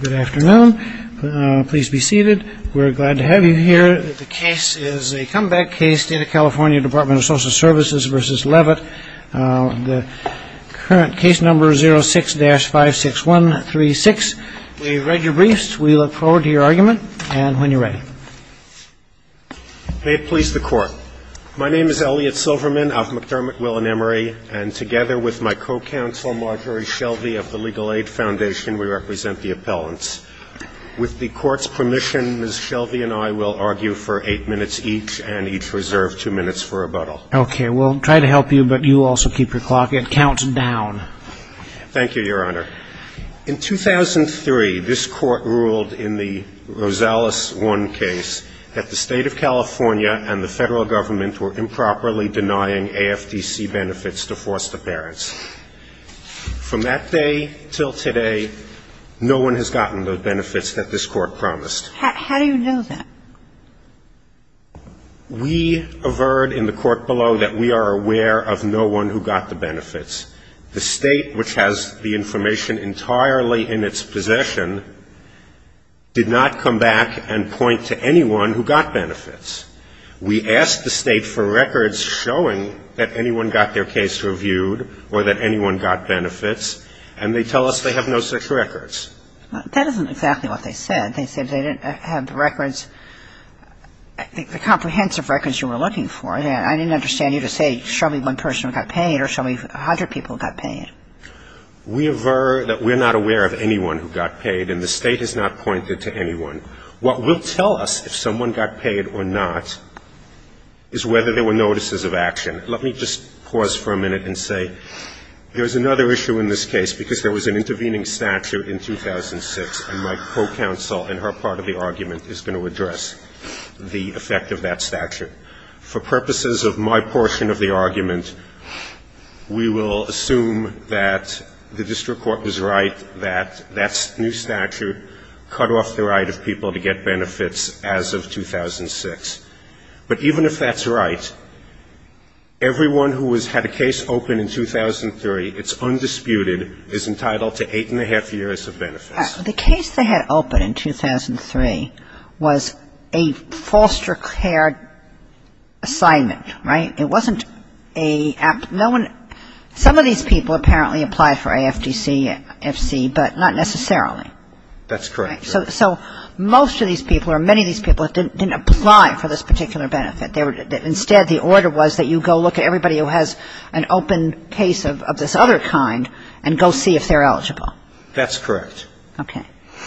Good afternoon. Please be seated. We're glad to have you here. The case is a comeback case, State of California Department of Social Services v. Leavitt. The current case number is 06-56136. We've read your briefs. We look forward to your argument and when you're ready. May it please the Court. My name is Elliot Silverman of McDermott, Will and Emery, and together with my co-counsel Marjorie Shelby of the Legal Aid Foundation, we represent the appellants. With the Court's permission, Ms. Shelby and I will argue for eight minutes each, and each reserve two minutes for rebuttal. Okay. We'll try to help you, but you also keep your clock. It counts down. Thank you, Your Honor. In 2003, this Court ruled in the Rosales 1 case that the State of California and the Federal Government were improperly denying AFDC benefits to foster parents. From that day till today, no one has gotten the benefits that this Court promised. How do you know that? We averred in the court below that we are aware of no one who got the benefits. The State, which has the information entirely in its possession, did not come back and point to anyone who got benefits. We asked the State for records showing that anyone got their case reviewed or that anyone got benefits, and they tell us they have no such records. That isn't exactly what they said. They said they didn't have the records, the comprehensive records you were looking for. I didn't understand you to say, show me one person who got paid or show me 100 people who got paid. We averred that we're not aware of anyone who got paid, and the State has not pointed to anyone. What will tell us if someone got paid or not is whether there were notices of action. Let me just pause for a minute and say there's another issue in this case because there was an intervening statute in 2006, and my co-counsel in her part of the argument is going to address the effect of that statute. For purposes of my portion of the argument, we will assume that the district court was right, that that new statute cut off the right of people to get benefits as of 2006. But even if that's right, everyone who has had a case open in 2003, it's undisputed, is entitled to eight and a half years of benefits. The case they had open in 2003 was a foster care assignment, right? It wasn't a no one, some of these people apparently applied for AFDC, FC, but not necessarily. That's correct. So most of these people or many of these people didn't apply for this particular benefit. Instead, the order was that you go look at everybody who has an open case of this other kind and go see if they're eligible. That's correct. Okay.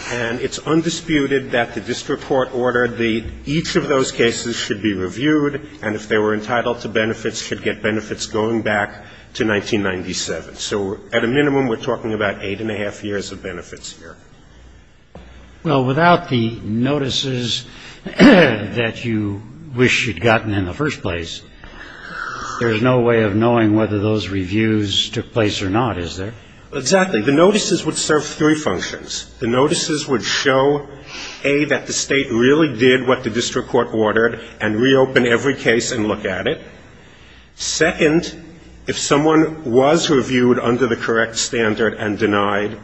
And it's undisputed that the district court ordered that each of those cases should be reviewed, and if they were entitled to benefits, should get benefits going back to 1997. So at a minimum, we're talking about eight and a half years of benefits here. Well, without the notices that you wish you'd gotten in the first place, there's no way of knowing whether those reviews took place or not, is there? Exactly. The notices would serve three functions. The notices would show, A, that the state really did what the district court ordered and reopen every case and look at it. Second, if someone was reviewed under the correct standard and denied,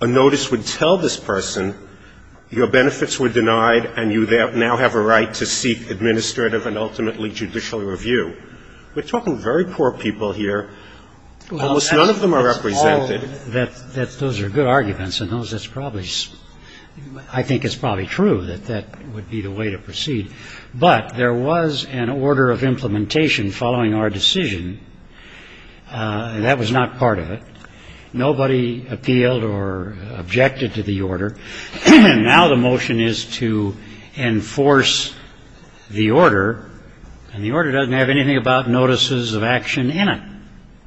a notice would tell this person, your benefits were denied and you now have a right to seek administrative and ultimately judicial review. We're talking very poor people here. Almost none of them are represented. Well, that's all that's – those are good arguments, and those that's probably – I think it's probably true that that would be the way to proceed. But there was an order of implementation following our decision, and that was not part of it. Nobody appealed or objected to the order. And now the motion is to enforce the order, and the order doesn't have anything about notices of action in it.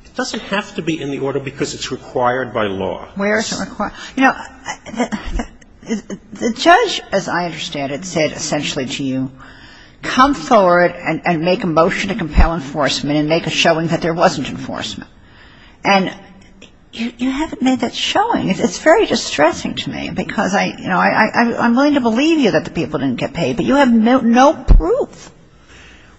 It doesn't have to be in the order because it's required by law. Where is it required? Well, you know, the judge, as I understand it, said essentially to you, come forward and make a motion to compel enforcement and make a showing that there wasn't enforcement. And you haven't made that showing. It's very distressing to me because, you know, I'm willing to believe you that the people didn't get paid, but you have no proof.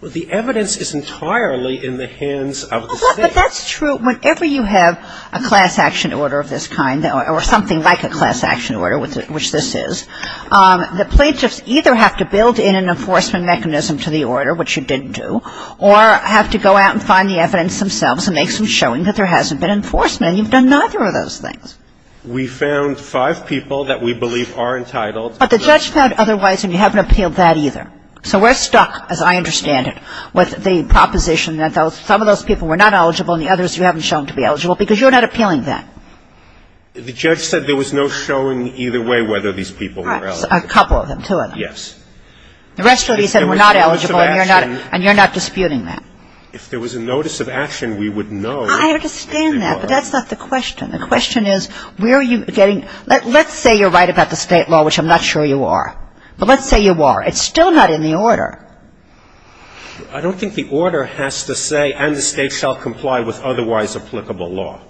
Well, the evidence is entirely in the hands of the state. But that's true. Whenever you have a class action order of this kind or something like a class action order, which this is, the plaintiffs either have to build in an enforcement mechanism to the order, which you didn't do, or have to go out and find the evidence themselves and make some showing that there hasn't been enforcement. And you've done neither of those things. We found five people that we believe are entitled. But the judge found otherwise, and you haven't appealed that either. So we're stuck, as I understand it, with the proposition that some of those people were not eligible and the others you haven't shown to be eligible because you're not appealing that. The judge said there was no showing either way whether these people were eligible. Right. A couple of them, two of them. Yes. The rest of you said were not eligible and you're not disputing that. If there was a notice of action, we would know. I understand that, but that's not the question. The question is where are you getting – let's say you're right about the state law, which I'm not sure you are. But let's say you are. It's still not in the order. I don't think the order has to say, and the state shall comply with otherwise applicable law.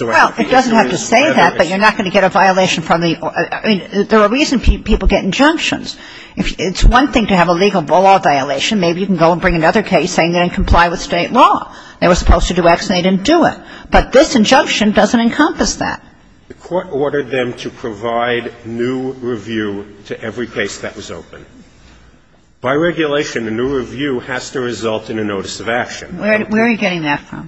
Well, it doesn't have to say that, but you're not going to get a violation from the – I mean, there are reasons people get injunctions. It's one thing to have a legal violation. Maybe you can go and bring another case saying they didn't comply with state law. They were supposed to do X and they didn't do it. But this injunction doesn't encompass that. The court ordered them to provide new review to every case that was open. By regulation, a new review has to result in a notice of action. Where are you getting that from?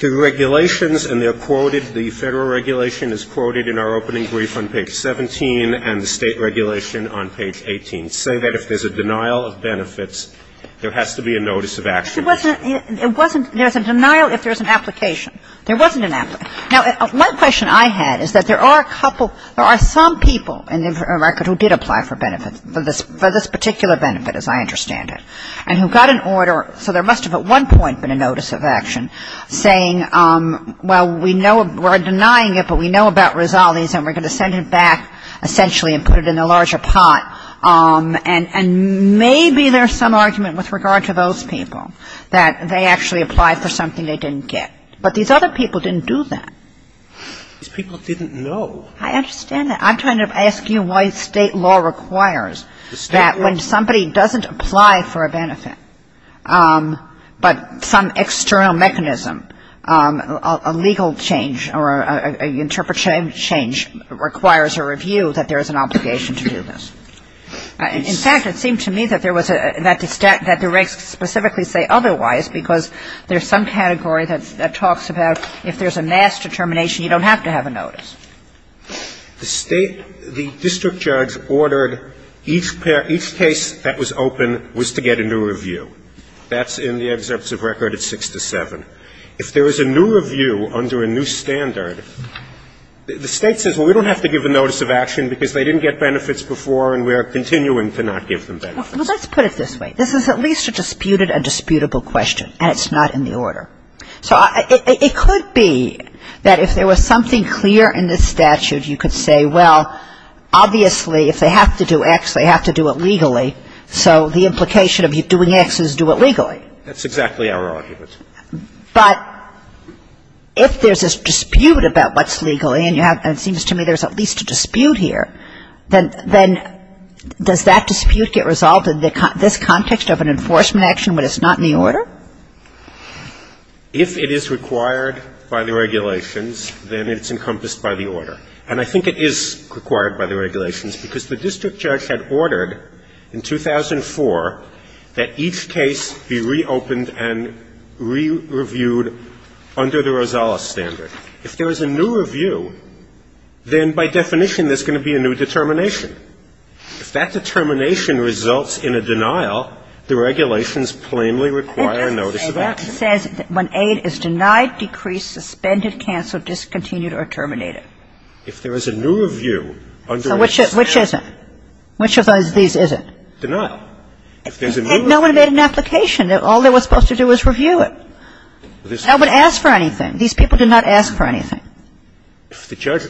The regulations, and they're quoted, the Federal regulation is quoted in our opening brief on page 17 and the State regulation on page 18, say that if there's a denial of benefits, there has to be a notice of action. It wasn't – it wasn't – there's a denial if there's an application. There wasn't an application. Now, one question I had is that there are a couple – there are some people in the record who did apply for benefits, for this particular benefit, as I understand it, and who got an order. So there must have at one point been a notice of action saying, well, we know – we're denying it, but we know about Rosales and we're going to send it back, essentially, and put it in a larger pot. And maybe there's some argument with regard to those people that they actually applied for something they didn't get. But these other people didn't do that. These people didn't know. I understand that. I'm trying to ask you why State law requires that when somebody doesn't apply for a benefit, but some external mechanism, a legal change or an interpretation change requires a review that there is an obligation to do this. In fact, it seemed to me that there was a – that the regs specifically say otherwise because there's some category that talks about if there's a mass determination, you don't have to have a notice. The State – the district judge ordered each case that was open was to get a new review. That's in the excerpts of record at 6 to 7. If there is a new review under a new standard, the State says, well, we don't have to give a notice of action because they didn't get benefits before and we are continuing to not give them benefits. Well, let's put it this way. This is at least a disputed and disputable question, and it's not in the order. So it could be that if there was something clear in this statute, you could say, well, obviously if they have to do X, they have to do it legally, so the implication of doing X is do it legally. That's exactly our argument. But if there's a dispute about what's legally, and it seems to me there's at least a dispute here, then does that dispute get resolved in this context of an enforcement action when it's not in the order? If it is required by the regulations, then it's encompassed by the order. And I think it is required by the regulations because the district judge had ordered in 2004 that each case be reopened and re-reviewed under the Rosales standard. If there is a new review, then by definition there's going to be a new determination. If that determination results in a denial, the regulations plainly require a notice of action. It doesn't say that. It says when aid is denied, decreased, suspended, canceled, discontinued, or terminated. If there is a new review under the standard of the statute. So which is it? Which of these is it? Denial. If there's a new review. And no one made an application. All they were supposed to do was review it. I wouldn't ask for anything. These people did not ask for anything. The judge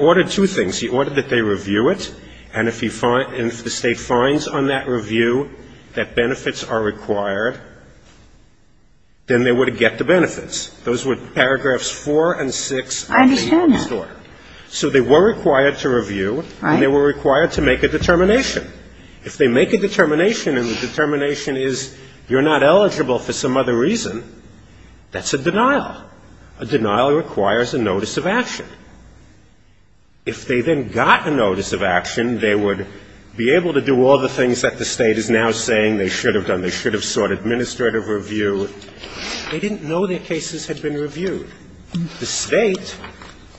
ordered two things. He ordered that they review it. And if the State finds on that review that benefits are required, then they would get the benefits. Those were paragraphs 4 and 6. I understand that. So they were required to review. Right. And they were required to make a determination. If they make a determination and the determination is you're not eligible for some other reason, that's a denial. A denial requires a notice of action. If they then got a notice of action, they would be able to do all the things that the State is now saying they should have done. They should have sought administrative review. They didn't know their cases had been reviewed. The State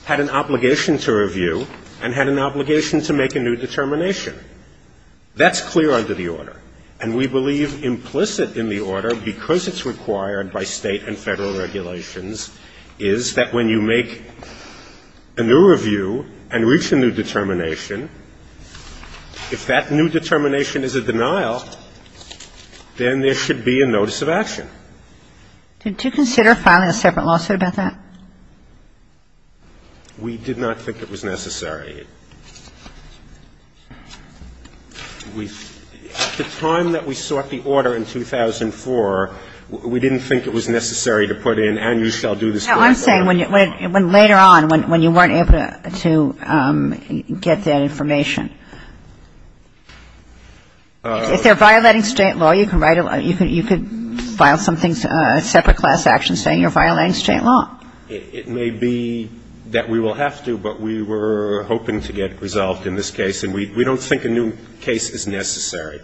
had an obligation to review and had an obligation to make a new determination. That's clear under the order. And we believe implicit in the order, because it's required by State and Federal regulations, is that when you make a new review and reach a new determination, if that new determination is a denial, then there should be a notice of action. Did you consider filing a separate lawsuit about that? We did not think it was necessary. At the time that we sought the order in 2004, we didn't think it was necessary to put in, and you shall do this for me. No, I'm saying when later on, when you weren't able to get that information. If they're violating State law, you can write a law you could file something, a separate class action saying you're violating State law. It may be that we will have to, but we were hoping to get it resolved in this case, and we don't think a new case is necessary.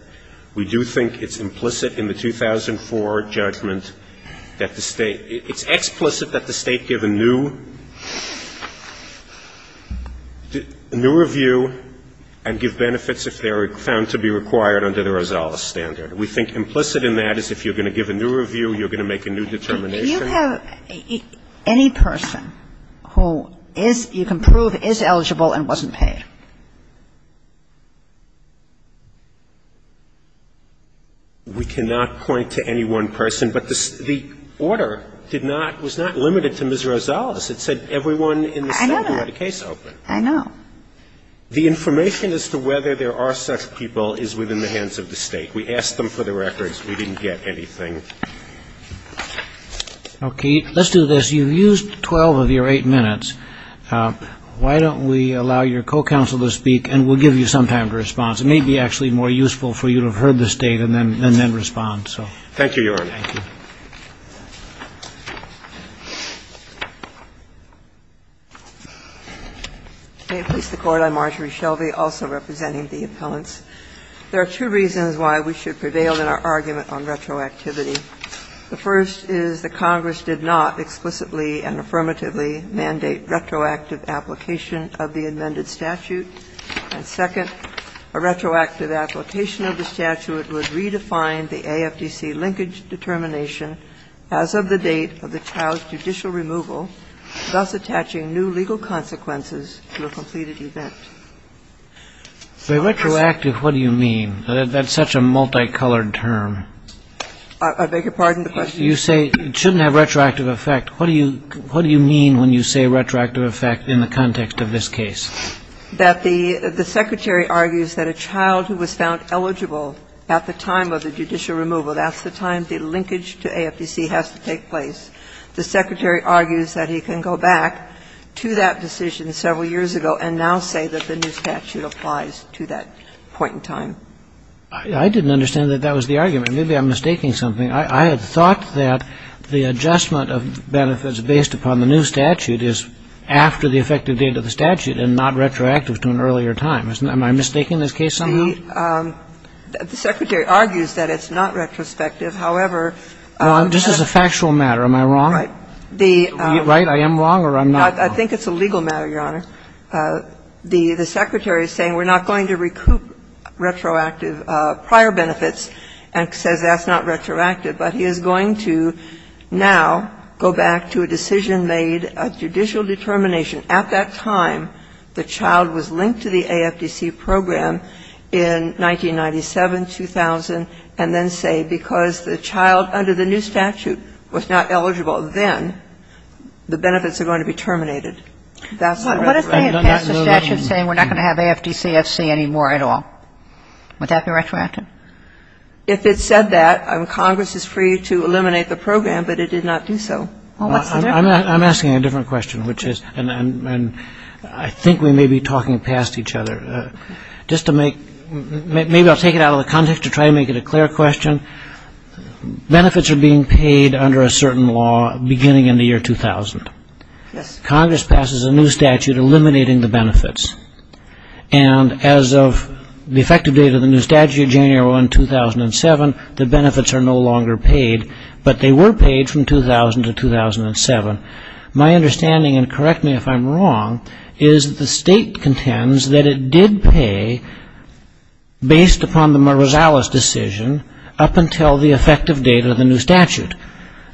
We do think it's implicit in the 2004 judgment that the State – it's explicit that the State give a new review and give benefits if they're found to be required under the Rosales standard. We think implicit in that is if you're going to give a new review, you're going to make a new determination. Do you have any person who is – you can prove is eligible and wasn't paid? We cannot point to any one person. But the order did not – was not limited to Ms. Rosales. It said everyone in the State who had a case open. I know. The information as to whether there are such people is within the hands of the State. We asked them for the records. We didn't get anything. Thank you. Okay. Let's do this. You've used 12 of your 8 minutes. Why don't we allow your co-counsel to speak, and we'll give you some time to respond. It may be actually more useful for you to have heard the State and then respond, so. Thank you, Your Honor. Thank you. May it please the Court. I'm Marjorie Shelby, also representing the appellants. There are two reasons why we should prevail in our argument on retroactivity. The first is that Congress did not explicitly and affirmatively mandate retroactive application of the amended statute. And second, a retroactive application of the statute would redefine the AFDC linkage determination as of the date of the child's judicial removal, thus attaching new legal consequences to a completed event. The retroactive, what do you mean? That's such a multicolored term. I beg your pardon? You say it shouldn't have retroactive effect. What do you mean when you say retroactive effect in the context of this case? That the Secretary argues that a child who was found eligible at the time of the judicial removal, that's the time the linkage to AFDC has to take place. The Secretary argues that he can go back to that decision several years ago and now say that the new statute applies to that point in time. I didn't understand that that was the argument. Maybe I'm mistaking something. I had thought that the adjustment of benefits based upon the new statute is after the effective date of the statute and not retroactive to an earlier time. Am I mistaking this case somehow? The Secretary argues that it's not retrospective. However, the other one is not. This is a factual matter. Am I wrong? I am wrong or I'm not wrong? I think it's a legal matter, Your Honor. The Secretary is saying we're not going to recoup retroactive prior benefits and says that's not retroactive, but he is going to now go back to a decision made, a judicial determination at that time the child was linked to the AFDC program in 1997, 2000, and then say because the child under the new statute was not eligible, then the benefits are going to be terminated. That's not retroactive. What if they had passed a statute saying we're not going to have AFDCFC anymore at all? Would that be retroactive? If it said that, Congress is free to eliminate the program, but it did not do so. Well, what's the difference? I'm asking a different question, which is, and I think we may be talking past each other. Just to make — maybe I'll take it out of the context to try to make it a clear question. Benefits are being paid under a certain law beginning in the year 2000. Yes. Congress passes a new statute eliminating the benefits. And as of the effective date of the new statute, January 1, 2007, the benefits are no longer paid, but they were paid from 2000 to 2007. My understanding, and correct me if I'm wrong, is that the state contends that it did pay, based upon the Marzales decision, up until the effective date of the new statute.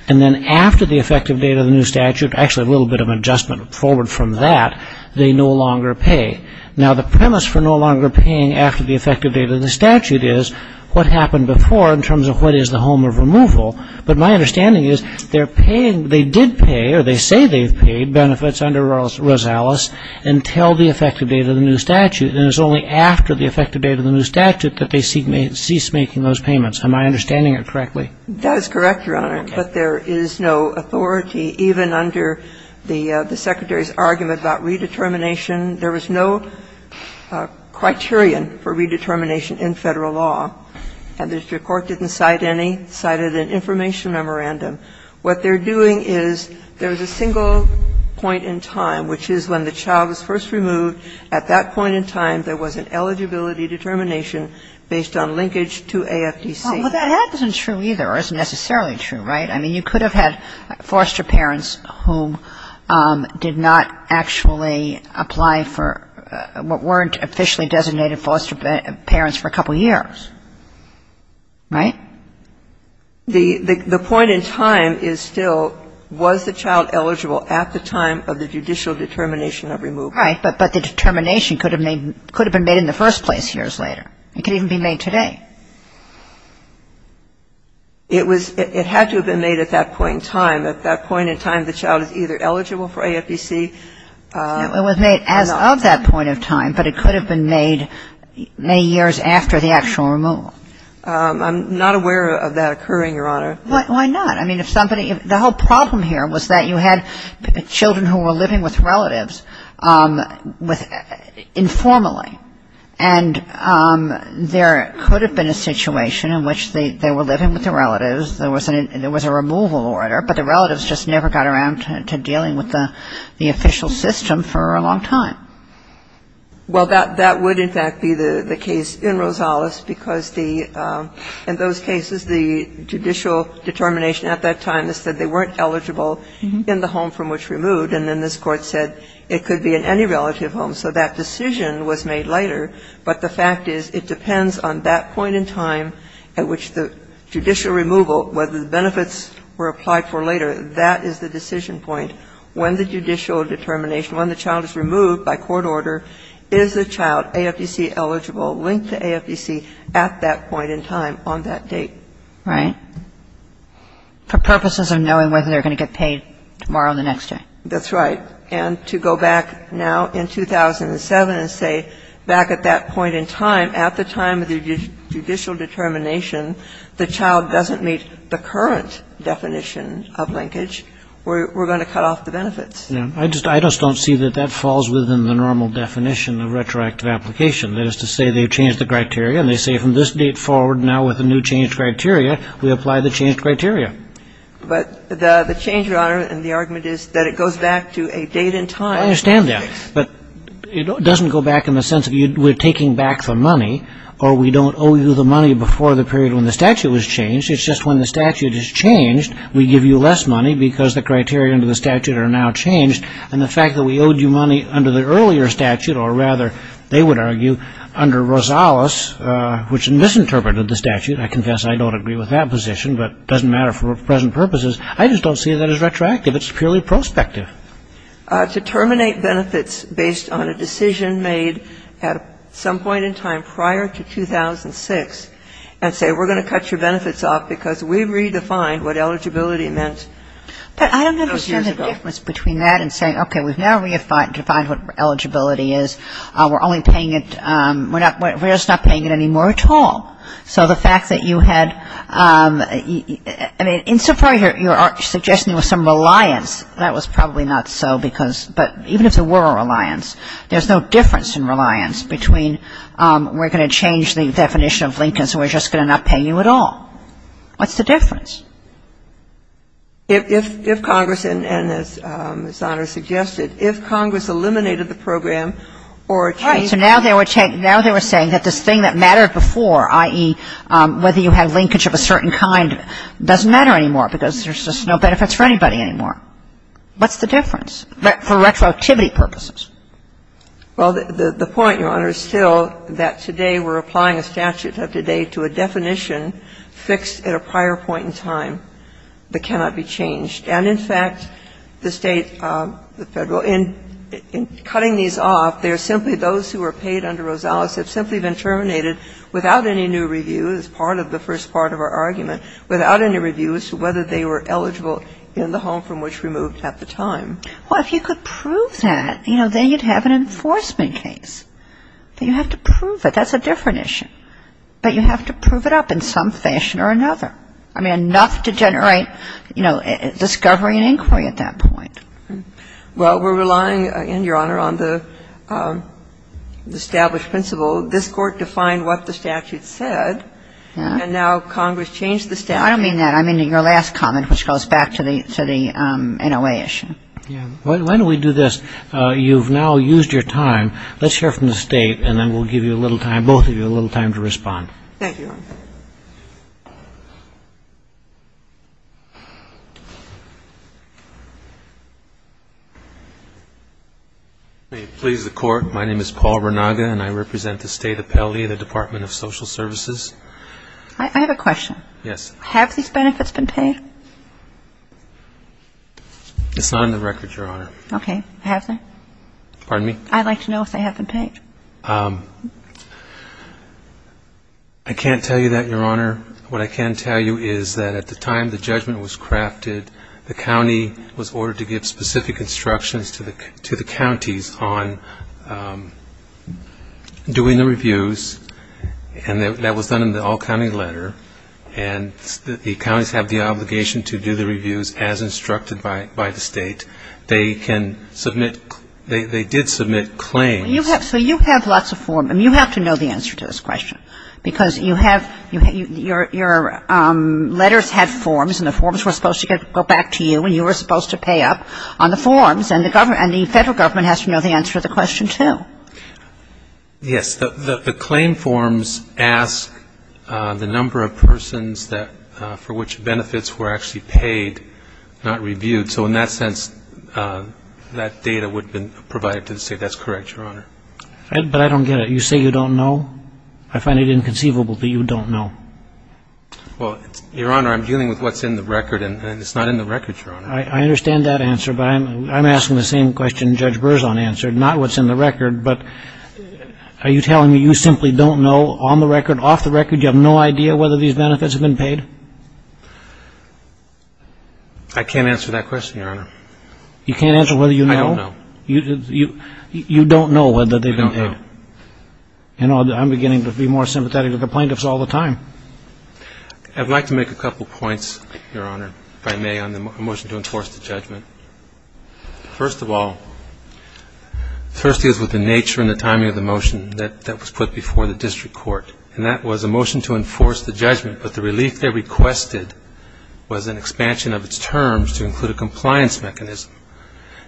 And then after the effective date of the new statute, actually a little bit of adjustment forward from that, they no longer pay. Now, the premise for no longer paying after the effective date of the statute is what happened before in terms of what is the home of removal. But my understanding is they're paying — they did pay, or they say they've paid benefits under Marzales until the effective date of the new statute. And it's only after the effective date of the new statute that they cease making those payments. Am I understanding it correctly? That is correct, Your Honor. But there is no authority, even under the Secretary's argument about redetermination, there was no criterion for redetermination in Federal law. And the district court didn't cite any. It cited an information memorandum. What they're doing is there's a single point in time, which is when the child was first removed. At that point in time, there was an eligibility determination based on linkage to AFDC. Well, that isn't true either, or isn't necessarily true, right? I mean, you could have had foster parents who did not actually apply for what weren't officially designated foster parents for a couple of years, right? The point in time is still, was the child eligible at the time of the judicial determination of removal? Right. But the determination could have been made in the first place years later. It could even be made today. It was — it had to have been made at that point in time. At that point in time, the child is either eligible for AFDC or not. It was made as of that point in time, but it could have been made many years after the actual removal. I'm not aware of that occurring, Your Honor. Why not? I mean, if somebody — the whole problem here was that you had children who were living with relatives with — informally. And there could have been a situation in which they were living with their relatives. There was a removal order, but the relatives just never got around to dealing with the official system for a long time. Well, that would, in fact, be the case in Rosales because the — in those cases, the judicial determination at that time that said they weren't eligible in the home from which removed, and then this Court said it could be in any relative home, so that decision was made later. But the fact is it depends on that point in time at which the judicial removal, whether the benefits were applied for later, that is the decision point. When the judicial determination — when the child is removed by court order, is the child AFDC-eligible, linked to AFDC at that point in time on that date? Right. For purposes of knowing whether they're going to get paid tomorrow or the next day. That's right. And to go back now in 2007 and say back at that point in time, at the time of the judicial determination, the child doesn't meet the current definition of linkage, we're going to cut off the benefits. Yeah. I just don't see that that falls within the normal definition of retroactive application. That is to say they change the criteria and they say from this date forward now with a new changed criteria, we apply the changed criteria. But the change, Your Honor, in the argument is that it goes back to a date and time. I understand that. But it doesn't go back in the sense of we're taking back the money or we don't owe you the money before the period when the statute was changed. It's just when the statute is changed, we give you less money because the criteria under the statute are now changed. And the fact that we owed you money under the earlier statute or rather, they would argue, under Rosales, which misinterpreted the statute, I confess I don't agree with that position, but it doesn't matter for present purposes. I just don't see that as retroactive. It's purely prospective. To terminate benefits based on a decision made at some point in time prior to 2006 and say we're going to cut your benefits off because we redefined what eligibility meant those years ago. But I don't understand the difference between that and saying, okay, we've now redefined what eligibility is. We're only paying it, we're just not paying it anymore at all. So the fact that you had, I mean, in some part you're suggesting there was some reliance. That was probably not so because, but even if there were a reliance, there's no difference in reliance between we're going to change the definition of Lincoln's and we're just going to not pay you at all. What's the difference? If Congress and, as Your Honor suggested, if Congress eliminated the program or changed the statute, now they were saying that this thing that mattered before, i.e., whether you had linkage of a certain kind, doesn't matter anymore because there's just no benefits for anybody anymore. What's the difference? For retroactivity purposes. Well, the point, Your Honor, is still that today we're applying a statute of today to a definition fixed at a prior point in time that cannot be changed. And in fact, the State, the Federal, in cutting these off, they're simply those who were paid under Rosales have simply been terminated without any new review as part of the first part of our argument, without any review as to whether they were eligible in the home from which we moved at the time. Well, if you could prove that, you know, then you'd have an enforcement case. But you have to prove it. That's a different issue. But you have to prove it up in some fashion or another. I mean, enough to generate, you know, discovery and inquiry at that point. Well, we're relying, again, Your Honor, on the established principle. This Court defined what the statute said. And now Congress changed the statute. I don't mean that. I mean your last comment, which goes back to the NOA issue. Why don't we do this? You've now used your time. Let's hear from the State, and then we'll give you a little time, both of you, a little time to respond. Thank you. May it please the Court, my name is Paul Renaga, and I represent the State Appellee of the Department of Social Services. I have a question. Yes. Have these benefits been paid? It's not on the record, Your Honor. Okay. Have they? Pardon me? I'd like to know if they have been paid. I can't tell you that, Your Honor. What I can tell you is that at the time the judgment was crafted, the county was ordered to give specific instructions to the counties on doing the reviews, and that was done in the all-county letter. And the counties have the obligation to do the reviews as instructed by the State. They can submit they did submit claims. So you have lots of forms, and you have to know the answer to this question, because you have your letters have forms, and the forms were supposed to go back to you, and you were supposed to pay up on the forms, and the Federal Government has to know the answer to the question, too. Yes. The claim forms ask the number of persons for which benefits were actually paid, not reviewed. So in that sense, that data would have been provided to the State. That's correct, Your Honor. But I don't get it. You say you don't know. I find it inconceivable that you don't know. Well, Your Honor, I'm dealing with what's in the record, and it's not in the record, Your Honor. I understand that answer, but I'm asking the same question Judge Berzon answered, not what's in the record, but are you telling me you simply don't know on the record, off the record, you have no idea whether these benefits have been paid? I can't answer that question, Your Honor. You can't answer whether you know? I don't know. You don't know whether they've been paid? I don't know. You know, I'm beginning to be more sympathetic to the plaintiffs all the time. I'd like to make a couple points, Your Honor, if I may, on the motion to enforce the judgment. First of all, first is with the nature and the timing of the motion that was put before the district court, and that was a motion to enforce the judgment. But the relief they requested was an expansion of its terms to include a compliance mechanism.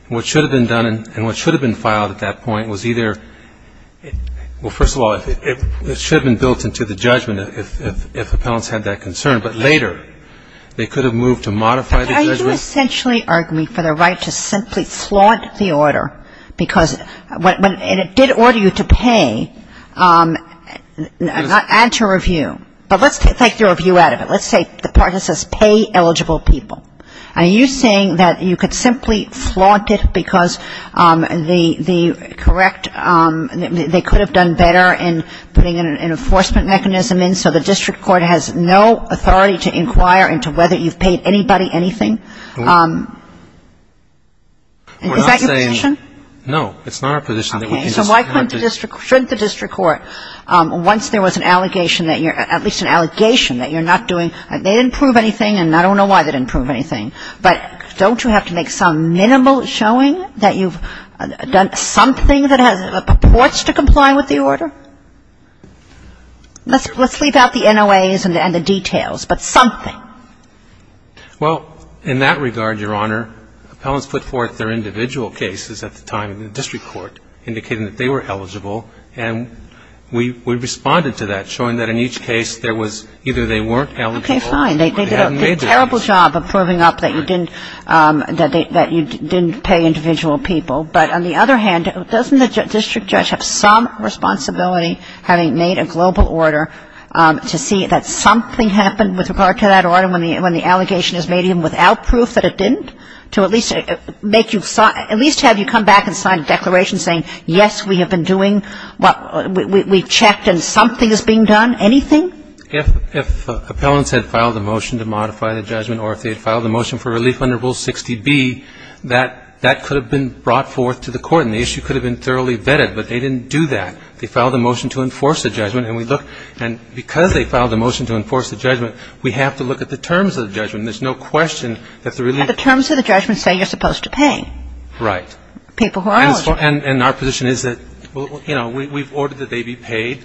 What should have been done and what should have been filed at that point was either well, first of all, it should have been built into the judgment if appellants had that concern, but later they could have moved to modify the judgment. Are you essentially arguing for the right to simply flaunt the order because when it did order you to pay, add to review. But let's take the review out of it. Let's say the part that says pay eligible people. Are you saying that you could simply flaunt it because the correct they could have done better in putting an enforcement mechanism in so the district court has no authority to inquire into whether you've paid anybody anything? Is that your position? No, it's not our position. Okay. So why couldn't the district court, shouldn't the district court, once there was an allegation that you're at least an allegation that you're not doing, they didn't prove anything and I don't know why they didn't prove anything. But don't you have to make some minimal showing that you've done something that purports to comply with the order? Let's leave out the NOAs and the details, but something. Well, in that regard, Your Honor, appellants put forth their individual cases at the time in the district court indicating that they were eligible and we responded to that showing that in each case there was either they weren't eligible or they hadn't made their case. Okay, fine. They did a terrible job of proving up that you didn't pay individual people. But on the other hand, doesn't the district judge have some responsibility having made a global order to see that something happened with regard to that order when the allegation is made even without proof that it didn't, to at least have you come back and sign a declaration saying, yes, we have been doing what we checked and something is being done? Anything? If appellants had filed a motion to modify the judgment or if they had filed a motion for relief under Rule 60B, that could have been brought forth to the court and the issue could have been thoroughly vetted, but they didn't do that. They filed a motion to enforce the judgment and we look, and because they filed a motion to enforce the judgment, we have to look at the terms of the judgment. There's no question that the relief The terms of the judgment say you're supposed to pay. Right. People who are eligible. And our position is that, you know, we've ordered that they be paid.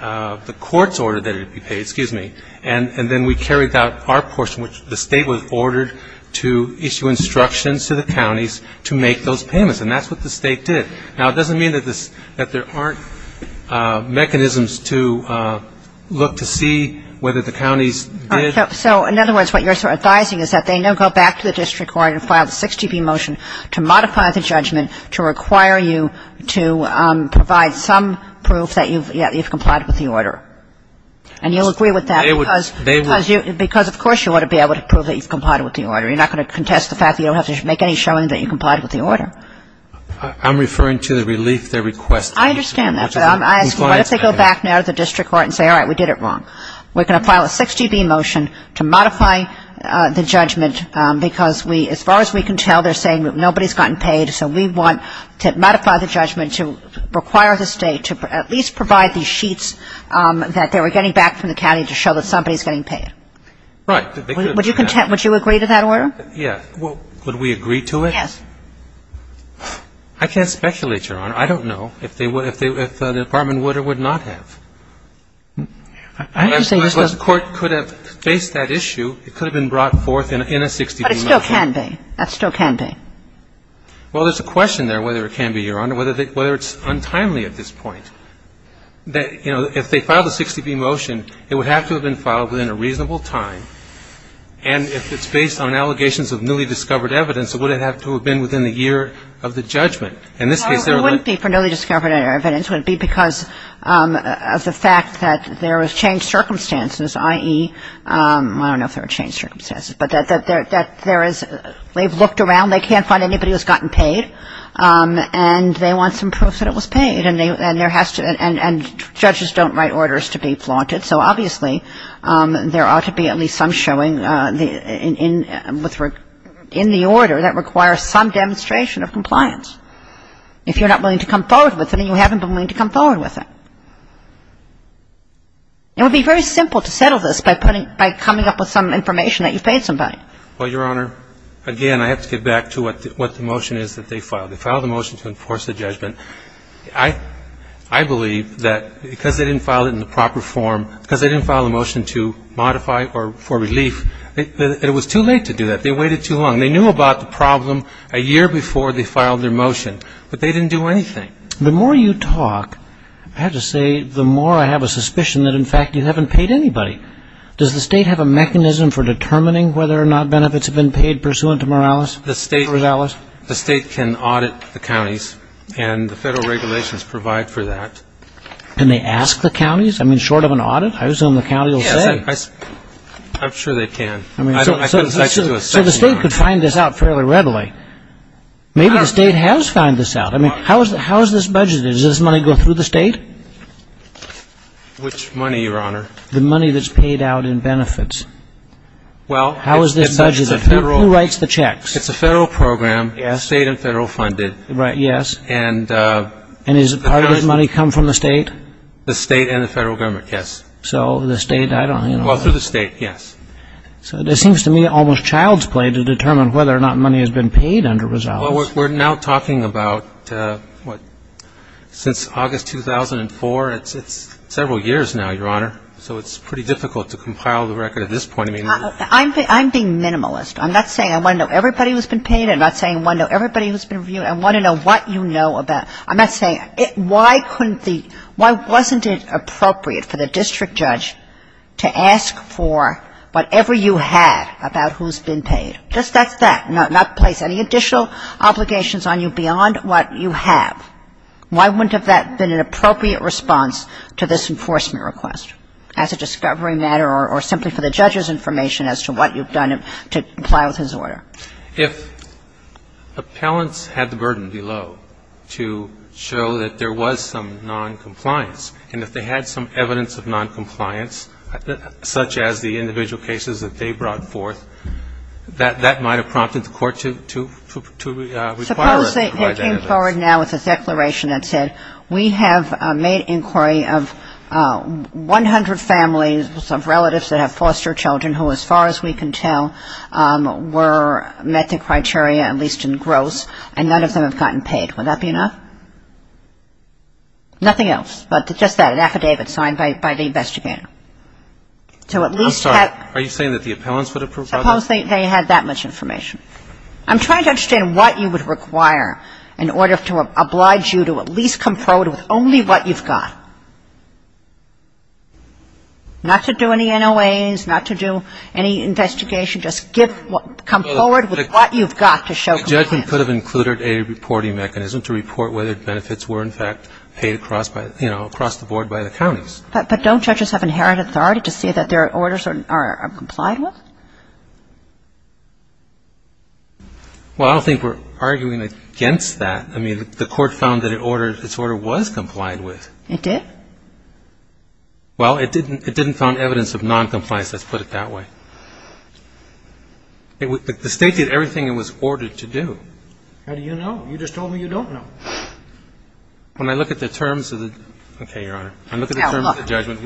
The courts ordered that it be paid, excuse me, and then we carried out our portion which the State was ordered to issue instructions to the counties to make those payments and that's what the State did. Now, it doesn't mean that there aren't mechanisms to look to see whether the counties did. So in other words, what you're advising is that they now go back to the district court and file the 60B motion to modify the judgment to require you to provide some proof that you've complied with the order. And you'll agree with that because of course you want to be able to prove that you've complied with the order. You're not going to contest the fact that you don't have to make any showing that you've complied with the order. I'm referring to the relief they request. I understand that, but I'm asking what if they go back now to the district court and say, all right, we did it wrong. We're going to file a 60B motion to modify the judgment because we, as far as we can tell they're saying nobody's gotten paid, so we want to modify the judgment to require the State to at least provide the sheets that they were getting back from the county to show that somebody's getting paid. Right. Would you agree to that order? Yeah. Would we agree to it? Yes. I can't speculate, Your Honor. I don't know if they would, if the Department would or would not have. I'm just saying this was a court could have faced that issue. It could have been brought forth in a 60B motion. But it still can be. That still can be. Well, there's a question there whether it can be, Your Honor, whether it's untimely at this point. You know, if they filed a 60B motion, it would have to have been filed within a reasonable time. And if it's based on allegations of newly discovered evidence, it would have to have been within the year of the judgment. In this case, there are no ---- It wouldn't be for newly discovered evidence. It would be because of the fact that there was changed circumstances, i.e. I don't know if there were changed circumstances, but that there is they've looked around. They can't find anybody who's gotten paid. And they want some proof that it was paid. And there has to be. And judges don't write orders to be flaunted. So, obviously, there ought to be at least some showing in the order. That requires some demonstration of compliance. If you're not willing to come forward with it and you haven't been willing to come forward with it. It would be very simple to settle this by putting ---- by coming up with some information that you've paid somebody. Well, Your Honor, again, I have to get back to what the motion is that they filed. They filed the motion to enforce the judgment. I believe that because they didn't file it in the proper form, because they didn't file a motion to modify or for relief, that it was too late to do that. They waited too long. They knew about the problem a year before they filed their motion. But they didn't do anything. The more you talk, I have to say, the more I have a suspicion that, in fact, you haven't paid anybody. Does the state have a mechanism for determining whether or not benefits have been paid pursuant to Morales? The state can audit the counties. And the federal regulations provide for that. Can they ask the counties? I mean, short of an audit? I assume the county will say. I'm sure they can. So the state could find this out fairly readily. Maybe the state has found this out. I mean, how is this budgeted? Does this money go through the state? Which money, Your Honor? The money that's paid out in benefits. How is this budgeted? Who writes the checks? It's a federal program, state and federal funded. Right, yes. And is part of this money come from the state? The state and the federal government, yes. So the state, I don't know. Well, through the state, yes. So it seems to me almost child's play to determine whether or not money has been paid under results. Well, we're now talking about, what, since August 2004. It's several years now, Your Honor. So it's pretty difficult to compile the record at this point. I'm being minimalist. I'm not saying I want to know everybody who's been paid. I'm not saying I want to know everybody who's been reviewed. I want to know what you know about. I'm not saying why couldn't the why wasn't it appropriate for the district judge to ask for whatever you had about who's been paid? Just that's that. Not place any additional obligations on you beyond what you have. Why wouldn't that have been an appropriate response to this enforcement request as a discovery matter or simply for the judge's information as to what you've done to comply with his order? If appellants had the burden below to show that there was some noncompliance and if they had some evidence of noncompliance, such as the individual cases that they brought forth, that might have prompted the court to require us to provide that evidence. Suppose they came forward now with a declaration that said, we have made inquiry of 100 families of relatives that have foster children who, as far as we can tell, were met the criteria, at least in gross, and none of them have gotten paid. Would that be enough? Nothing else but just that, an affidavit signed by the investigator. So at least have you... I'm sorry. Are you saying that the appellants would have provided? Suppose they had that much information. I'm trying to understand what you would require in order to oblige you to at least come forward with only what you've got. Not to do any NOAs, not to do any investigation, just come forward with what you've got to show compliance. The judgment could have included a reporting mechanism to report whether benefits were, in fact, paid across the board by the counties. But don't judges have inherent authority to say that their orders are complied with? Well, I don't think we're arguing against that. I mean, the court found that its order was complied with. It did? Well, it didn't found evidence of noncompliance, let's put it that way. The State did everything it was ordered to do. How do you know? You just told me you don't know. When I look at the terms of the judgment,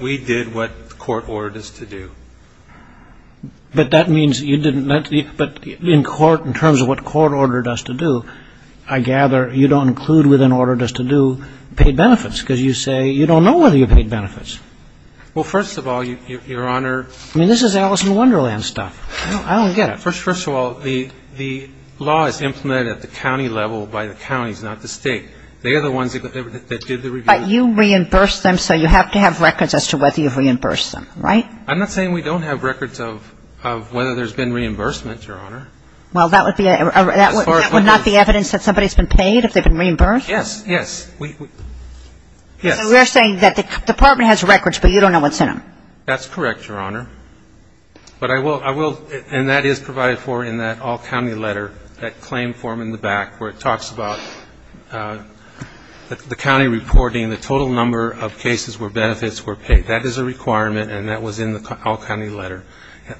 we did what the court ordered us to do. But that means you didn't let the... But in court, in terms of what court ordered us to do, I gather you don't include what it ordered us to do, paid benefits, because you say you don't know whether you paid benefits. Well, first of all, Your Honor... I mean, this is Alice in Wonderland stuff. I don't get it. First of all, the law is implemented at the county level by the counties, not the State. They are the ones that did the review. But you reimbursed them, so you have to have records as to whether you've reimbursed them, right? I'm not saying we don't have records of whether there's been reimbursement, Your Honor. Well, that would not be evidence that somebody's been paid if they've been reimbursed? Yes. Yes. Yes. So we're saying that the Department has records, but you don't know what's in them. That's correct, Your Honor. But I will – and that is provided for in that all-county letter, that claim form in the back, where it talks about the county reporting the total number of cases where benefits were paid. That is a requirement, and that was in the all-county letter.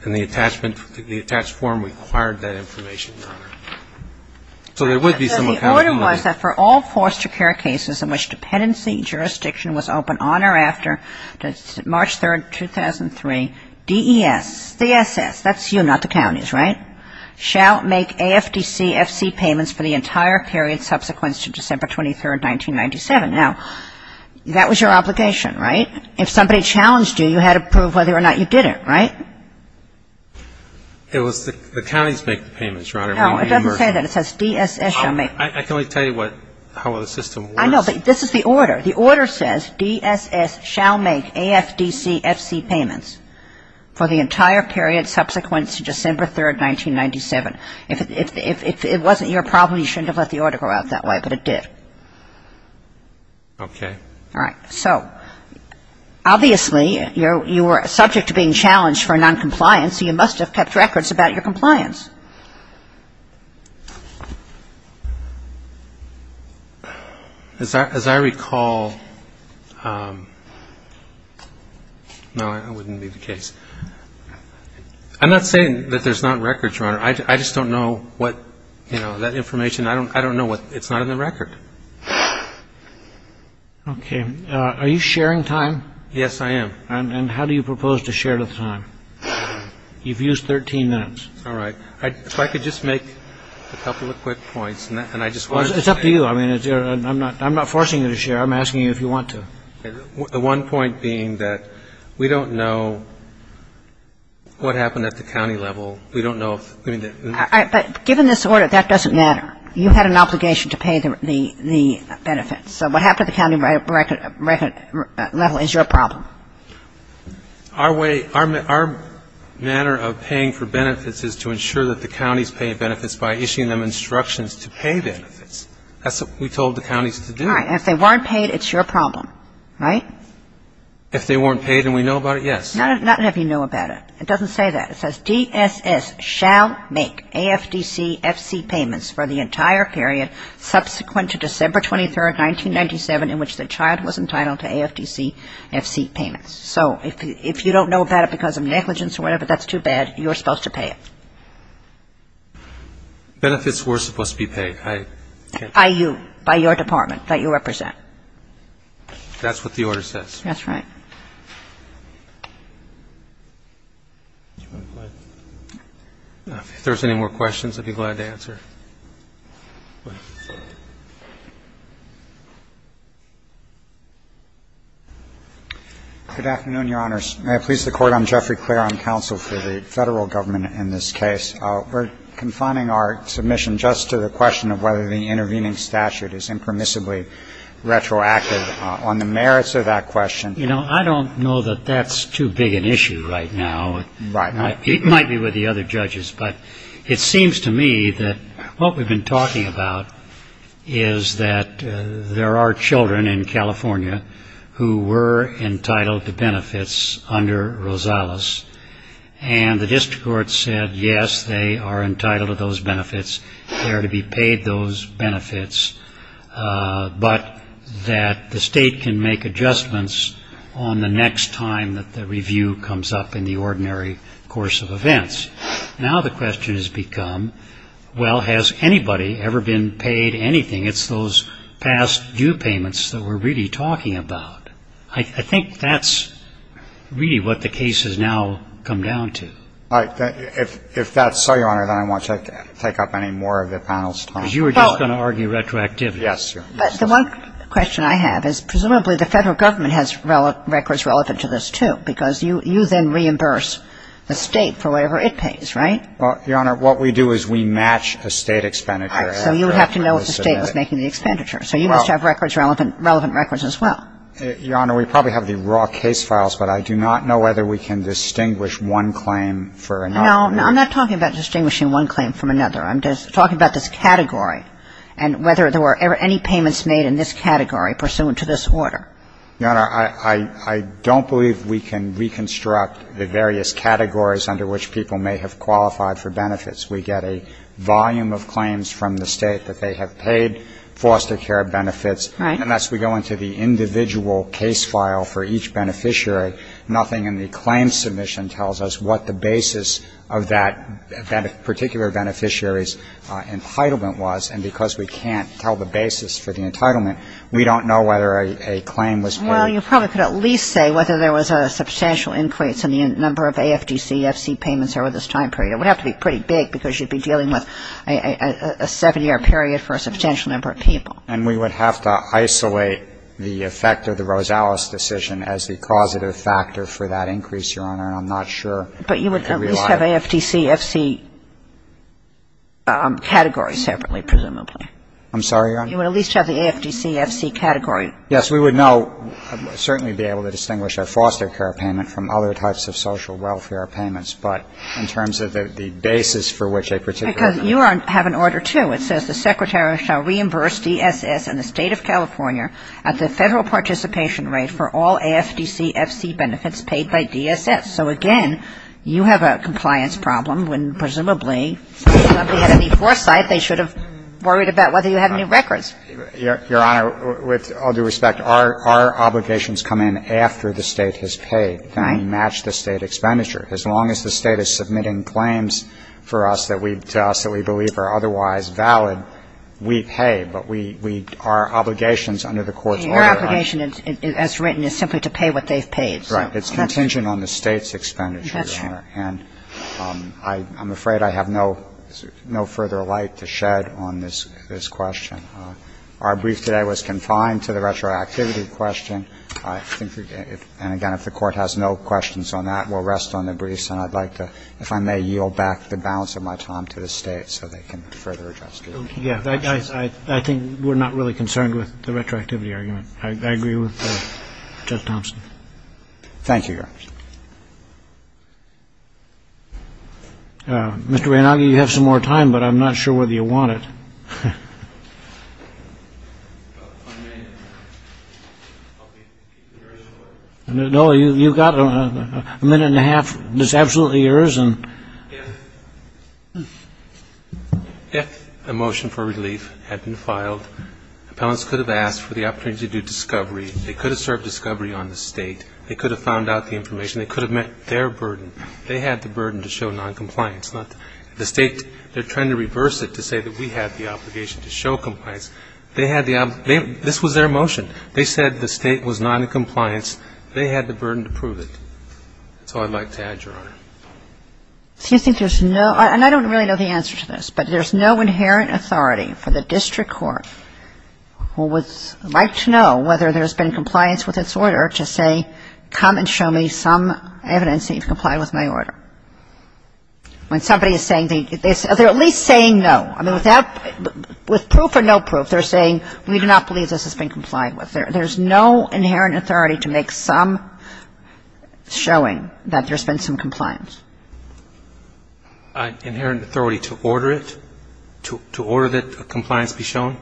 And the attachment – the attached form required that information, Your Honor. So there would be some accountability. The order was that for all foster care cases in which dependency jurisdiction was open on or after March 3rd, 2003, DES, the SS, that's you, not the counties, right, shall make AFDC FC payments for the entire period subsequent to December 23rd, 1997. Now, that was your obligation, right? If somebody challenged you, you had to prove whether or not you did it, right? It was the counties make the payments, Your Honor. No, it doesn't say that. It says DSS shall make. I can only tell you what – how the system works. I know, but this is the order. The order says DSS shall make AFDC FC payments for the entire period subsequent to December 3rd, 1997. If it wasn't your problem, you shouldn't have let the order go out that way, but it did. Okay. All right. So, obviously, you were subject to being challenged for noncompliance, so you must have kept records about your compliance. As I recall – no, that wouldn't be the case. I'm not saying that there's not records, Your Honor. I just don't know what – you know, that information, I don't know what – it's not in the record. Okay. Are you sharing time? Yes, I am. And how do you propose to share the time? You've used 13 minutes. All right. If I could just make a couple of quick points, and I just wanted to say – It's up to you. I mean, I'm not forcing you to share. I'm asking you if you want to. The one point being that we don't know what happened at the county level. We don't know if – But given this order, that doesn't matter. You had an obligation to pay the benefits. So what happened at the county level is your problem. Our way – our manner of paying for benefits is to ensure that the counties pay benefits by issuing them instructions to pay benefits. That's what we told the counties to do. All right. And if they weren't paid, it's your problem, right? If they weren't paid and we know about it, yes. Not if you know about it. It doesn't say that. It says DSS shall make AFDC-FC payments for the entire period subsequent to December 23, 1997, in which the child was entitled to AFDC-FC payments. So if you don't know about it because of negligence or whatever, that's too bad. You're supposed to pay it. Benefits were supposed to be paid. I can't – By you, by your department that you represent. That's what the order says. That's right. If there's any more questions, I'd be glad to answer. Go ahead. Good afternoon, Your Honors. May I please the Court? I'm Jeffrey Clair. I'm counsel for the Federal Government in this case. We're confining our submission just to the question of whether the intervening statute is impermissibly retroactive. On the merits of that question – You know, I don't know that that's too big an issue right now. Right. It might be with the other judges. But it seems to me that what we've been talking about is that there are children in California who were entitled to benefits under Rosales. And the district court said, yes, they are entitled to those benefits. They are to be paid those benefits. But that the state can make adjustments on the next time that the review comes up in the ordinary course of events. Now the question has become, well, has anybody ever been paid anything? It's those past due payments that we're really talking about. I think that's really what the case has now come down to. If that's so, Your Honor, then I won't take up any more of the panel's time. Because you were just going to argue retroactivity. Yes, Your Honor. But the one question I have is presumably the Federal Government has records relevant to this, too. Because you then reimburse the state for whatever it pays, right? Well, Your Honor, what we do is we match a state expenditure. So you would have to know if the state was making the expenditure. So you must have records, relevant records as well. Your Honor, we probably have the raw case files, but I do not know whether we can distinguish one claim for another. No, I'm not talking about distinguishing one claim from another. I'm just talking about this category and whether there were any payments made in this category pursuant to this order. Your Honor, I don't believe we can reconstruct the various categories under which people may have qualified for benefits. We get a volume of claims from the state that they have paid foster care benefits. Right. Unless we go into the individual case file for each beneficiary, nothing in the claim submission tells us what the basis of that particular beneficiary's entitlement was. And because we can't tell the basis for the entitlement, we don't know whether a claim was paid. Well, you probably could at least say whether there was a substantial increase in the number of AFDC, FC payments over this time period. It would have to be pretty big because you'd be dealing with a seven-year period for a substantial number of people. And we would have to isolate the effect of the Rosales decision as the causative factor for that increase, Your Honor, and I'm not sure. But you would at least have AFDC, FC categories separately, presumably. I'm sorry, Your Honor? You would at least have the AFDC, FC category. Yes. We would know, certainly be able to distinguish a foster care payment from other types of social welfare payments, but in terms of the basis for which a particular beneficiary. Because you have an order, too. It says the Secretary shall reimburse DSS and the State of California at the Federal participation rate for all AFDC, FC benefits paid by DSS. So, again, you have a compliance problem when, presumably, somebody had any foresight, they should have worried about whether you have any records. Your Honor, with all due respect, our obligations come in after the State has paid. Right. And we match the State expenditure. As long as the State is submitting claims for us that we believe are otherwise valid, we pay. But we, our obligations under the Court's order are. Your obligation, as written, is simply to pay what they've paid. Right. It's contingent on the State's expenditure, Your Honor. That's right. And I'm afraid I have no further light to shed on this question. Our brief today was confined to the retroactivity question. And, again, if the Court has no questions on that, we'll rest on the briefs. And I'd like to, if I may, yield back the balance of my time to the State so they can further adjust it. Yeah. I think we're not really concerned with the retroactivity argument. I agree with Judge Thompson. Thank you, Your Honor. Mr. Reynaghi, you have some more time, but I'm not sure whether you want it. No, you've got a minute and a half that's absolutely yours. If the motion for relief had been filed, appellants could have asked for the opportunity to do discovery. They could have served discovery on the State. They could have found out the information. They could have met their burden. They had the burden to show noncompliance, not the State. They're trying to reverse it to say that we had the obligation to show compliance. They had the obligation. This was their motion. They said the State was not in compliance. They had the burden to prove it. That's all I'd like to add, Your Honor. Do you think there's no ‑‑ and I don't really know the answer to this, but there's no inherent authority for the district court who would like to know whether there's been compliance with its order to say come and show me some evidence that you've complied with my order. When somebody is saying ‑‑ they're at least saying no. I mean, with proof or no proof, they're saying we do not believe this has been complied with. There's no inherent authority to make some showing that there's been some compliance. Inherent authority to order it? To order that compliance be shown?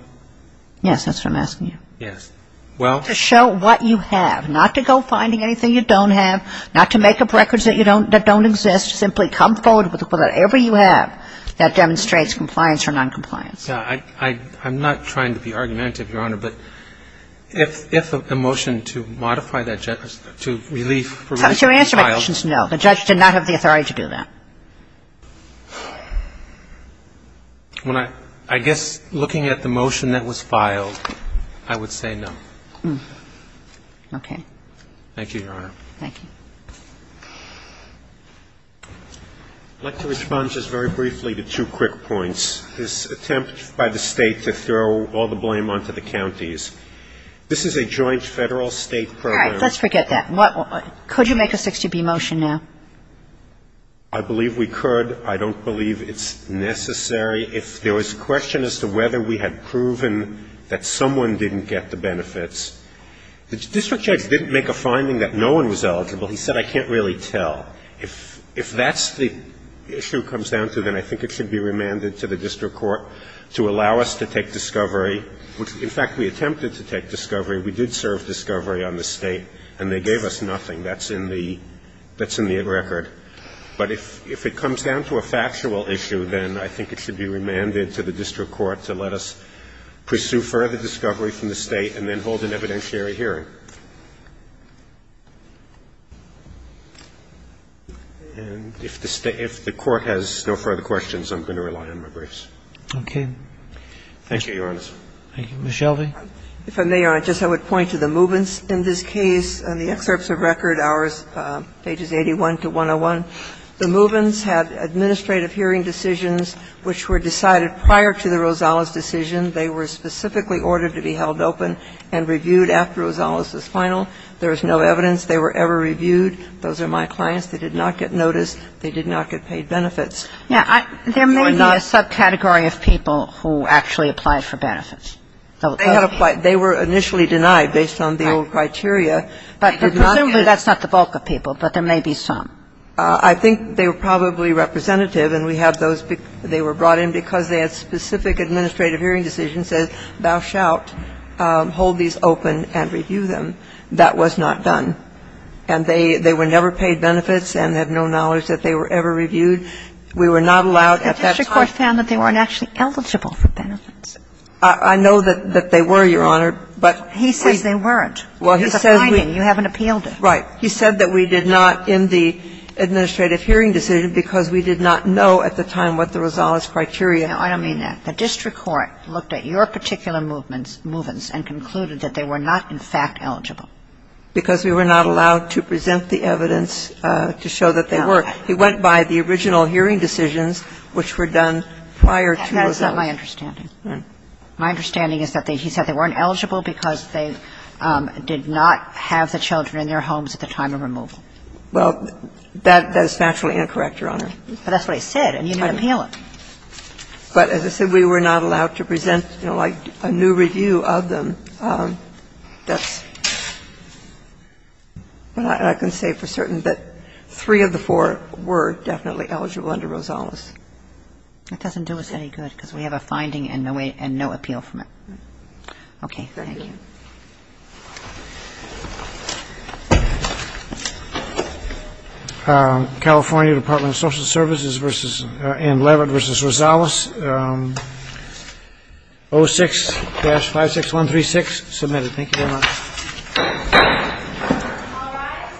Yes, that's what I'm asking you. Yes. Well ‑‑ To show what you have, not to go finding anything you don't have, not to make up records that don't exist. Simply come forward with whatever you have that demonstrates compliance or noncompliance. I'm not trying to be argumentative, Your Honor, but if a motion to modify that ‑‑ to relief ‑‑ To answer my question, no. The judge did not have the authority to do that. I guess looking at the motion that was filed, I would say no. Okay. Thank you, Your Honor. Thank you. I'd like to respond just very briefly to two quick points. This attempt by the State to throw all the blame onto the counties. This is a joint Federal‑State program. All right. Let's forget that. Could you make a 60B motion now? I believe we could. I don't believe it's necessary. If there was a question as to whether we had proven that someone didn't get the benefits. The district judge didn't make a finding that no one was eligible. He said, I can't really tell. If that's the issue it comes down to, then I think it should be remanded to the district court to allow us to take discovery. In fact, we attempted to take discovery. We did serve discovery on the State, and they gave us nothing. That's in the record. But if it comes down to a factual issue, then I think it should be remanded to the district court to let us pursue further discovery from the State and then hold an evidentiary hearing. And if the State ‑‑ if the Court has no further questions, I'm going to rely on my briefs. Okay. Thank you, Your Honor. Thank you. Ms. Shelby. If I may, Your Honor, just I would point to the Movens in this case. In the excerpts of record, ours, pages 81 to 101, the Movens had administrative hearing decisions which were decided prior to the Rosales decision. They were specifically ordered to be held open and reviewed after Rosales' final. There is no evidence they were ever reviewed. Those are my clients. They did not get noticed. They did not get paid benefits. Yeah. There may be a subcategory of people who actually applied for benefits. They were initially denied based on the old criteria. But presumably that's not the bulk of people, but there may be some. I think they were probably representative, and we had those ‑‑ they were brought in because they had specific administrative hearing decisions that said, thou shalt hold these open and review them. That was not done. And they were never paid benefits and have no knowledge that they were ever reviewed. We were not allowed at that time. The district court found that they weren't actually eligible for benefits. I know that they were, Your Honor, but ‑‑ He says they weren't. Well, he said we ‑‑ It's a finding. You haven't appealed it. Right. He said that we did not in the administrative hearing decision because we did not know at the time what the Rosales criteria ‑‑ No, I don't mean that. The district court looked at your particular movements and concluded that they were not in fact eligible. Because we were not allowed to present the evidence to show that they were. He went by the original hearing decisions, which were done prior to Rosales. That is not my understanding. My understanding is that he said they weren't eligible because they did not have the children in their homes at the time of removal. Well, that is naturally incorrect, Your Honor. But that's what he said, and you didn't appeal it. But as I said, we were not allowed to present, you know, like a new review of them that's ‑‑ I can say for certain that three of the four were definitely eligible under Rosales. That doesn't do us any good because we have a finding and no appeal from it. Okay. Thank you. California Department of Social Services and Leavitt v. Rosales, 06-56136, submitted. Thank you very much. All rise.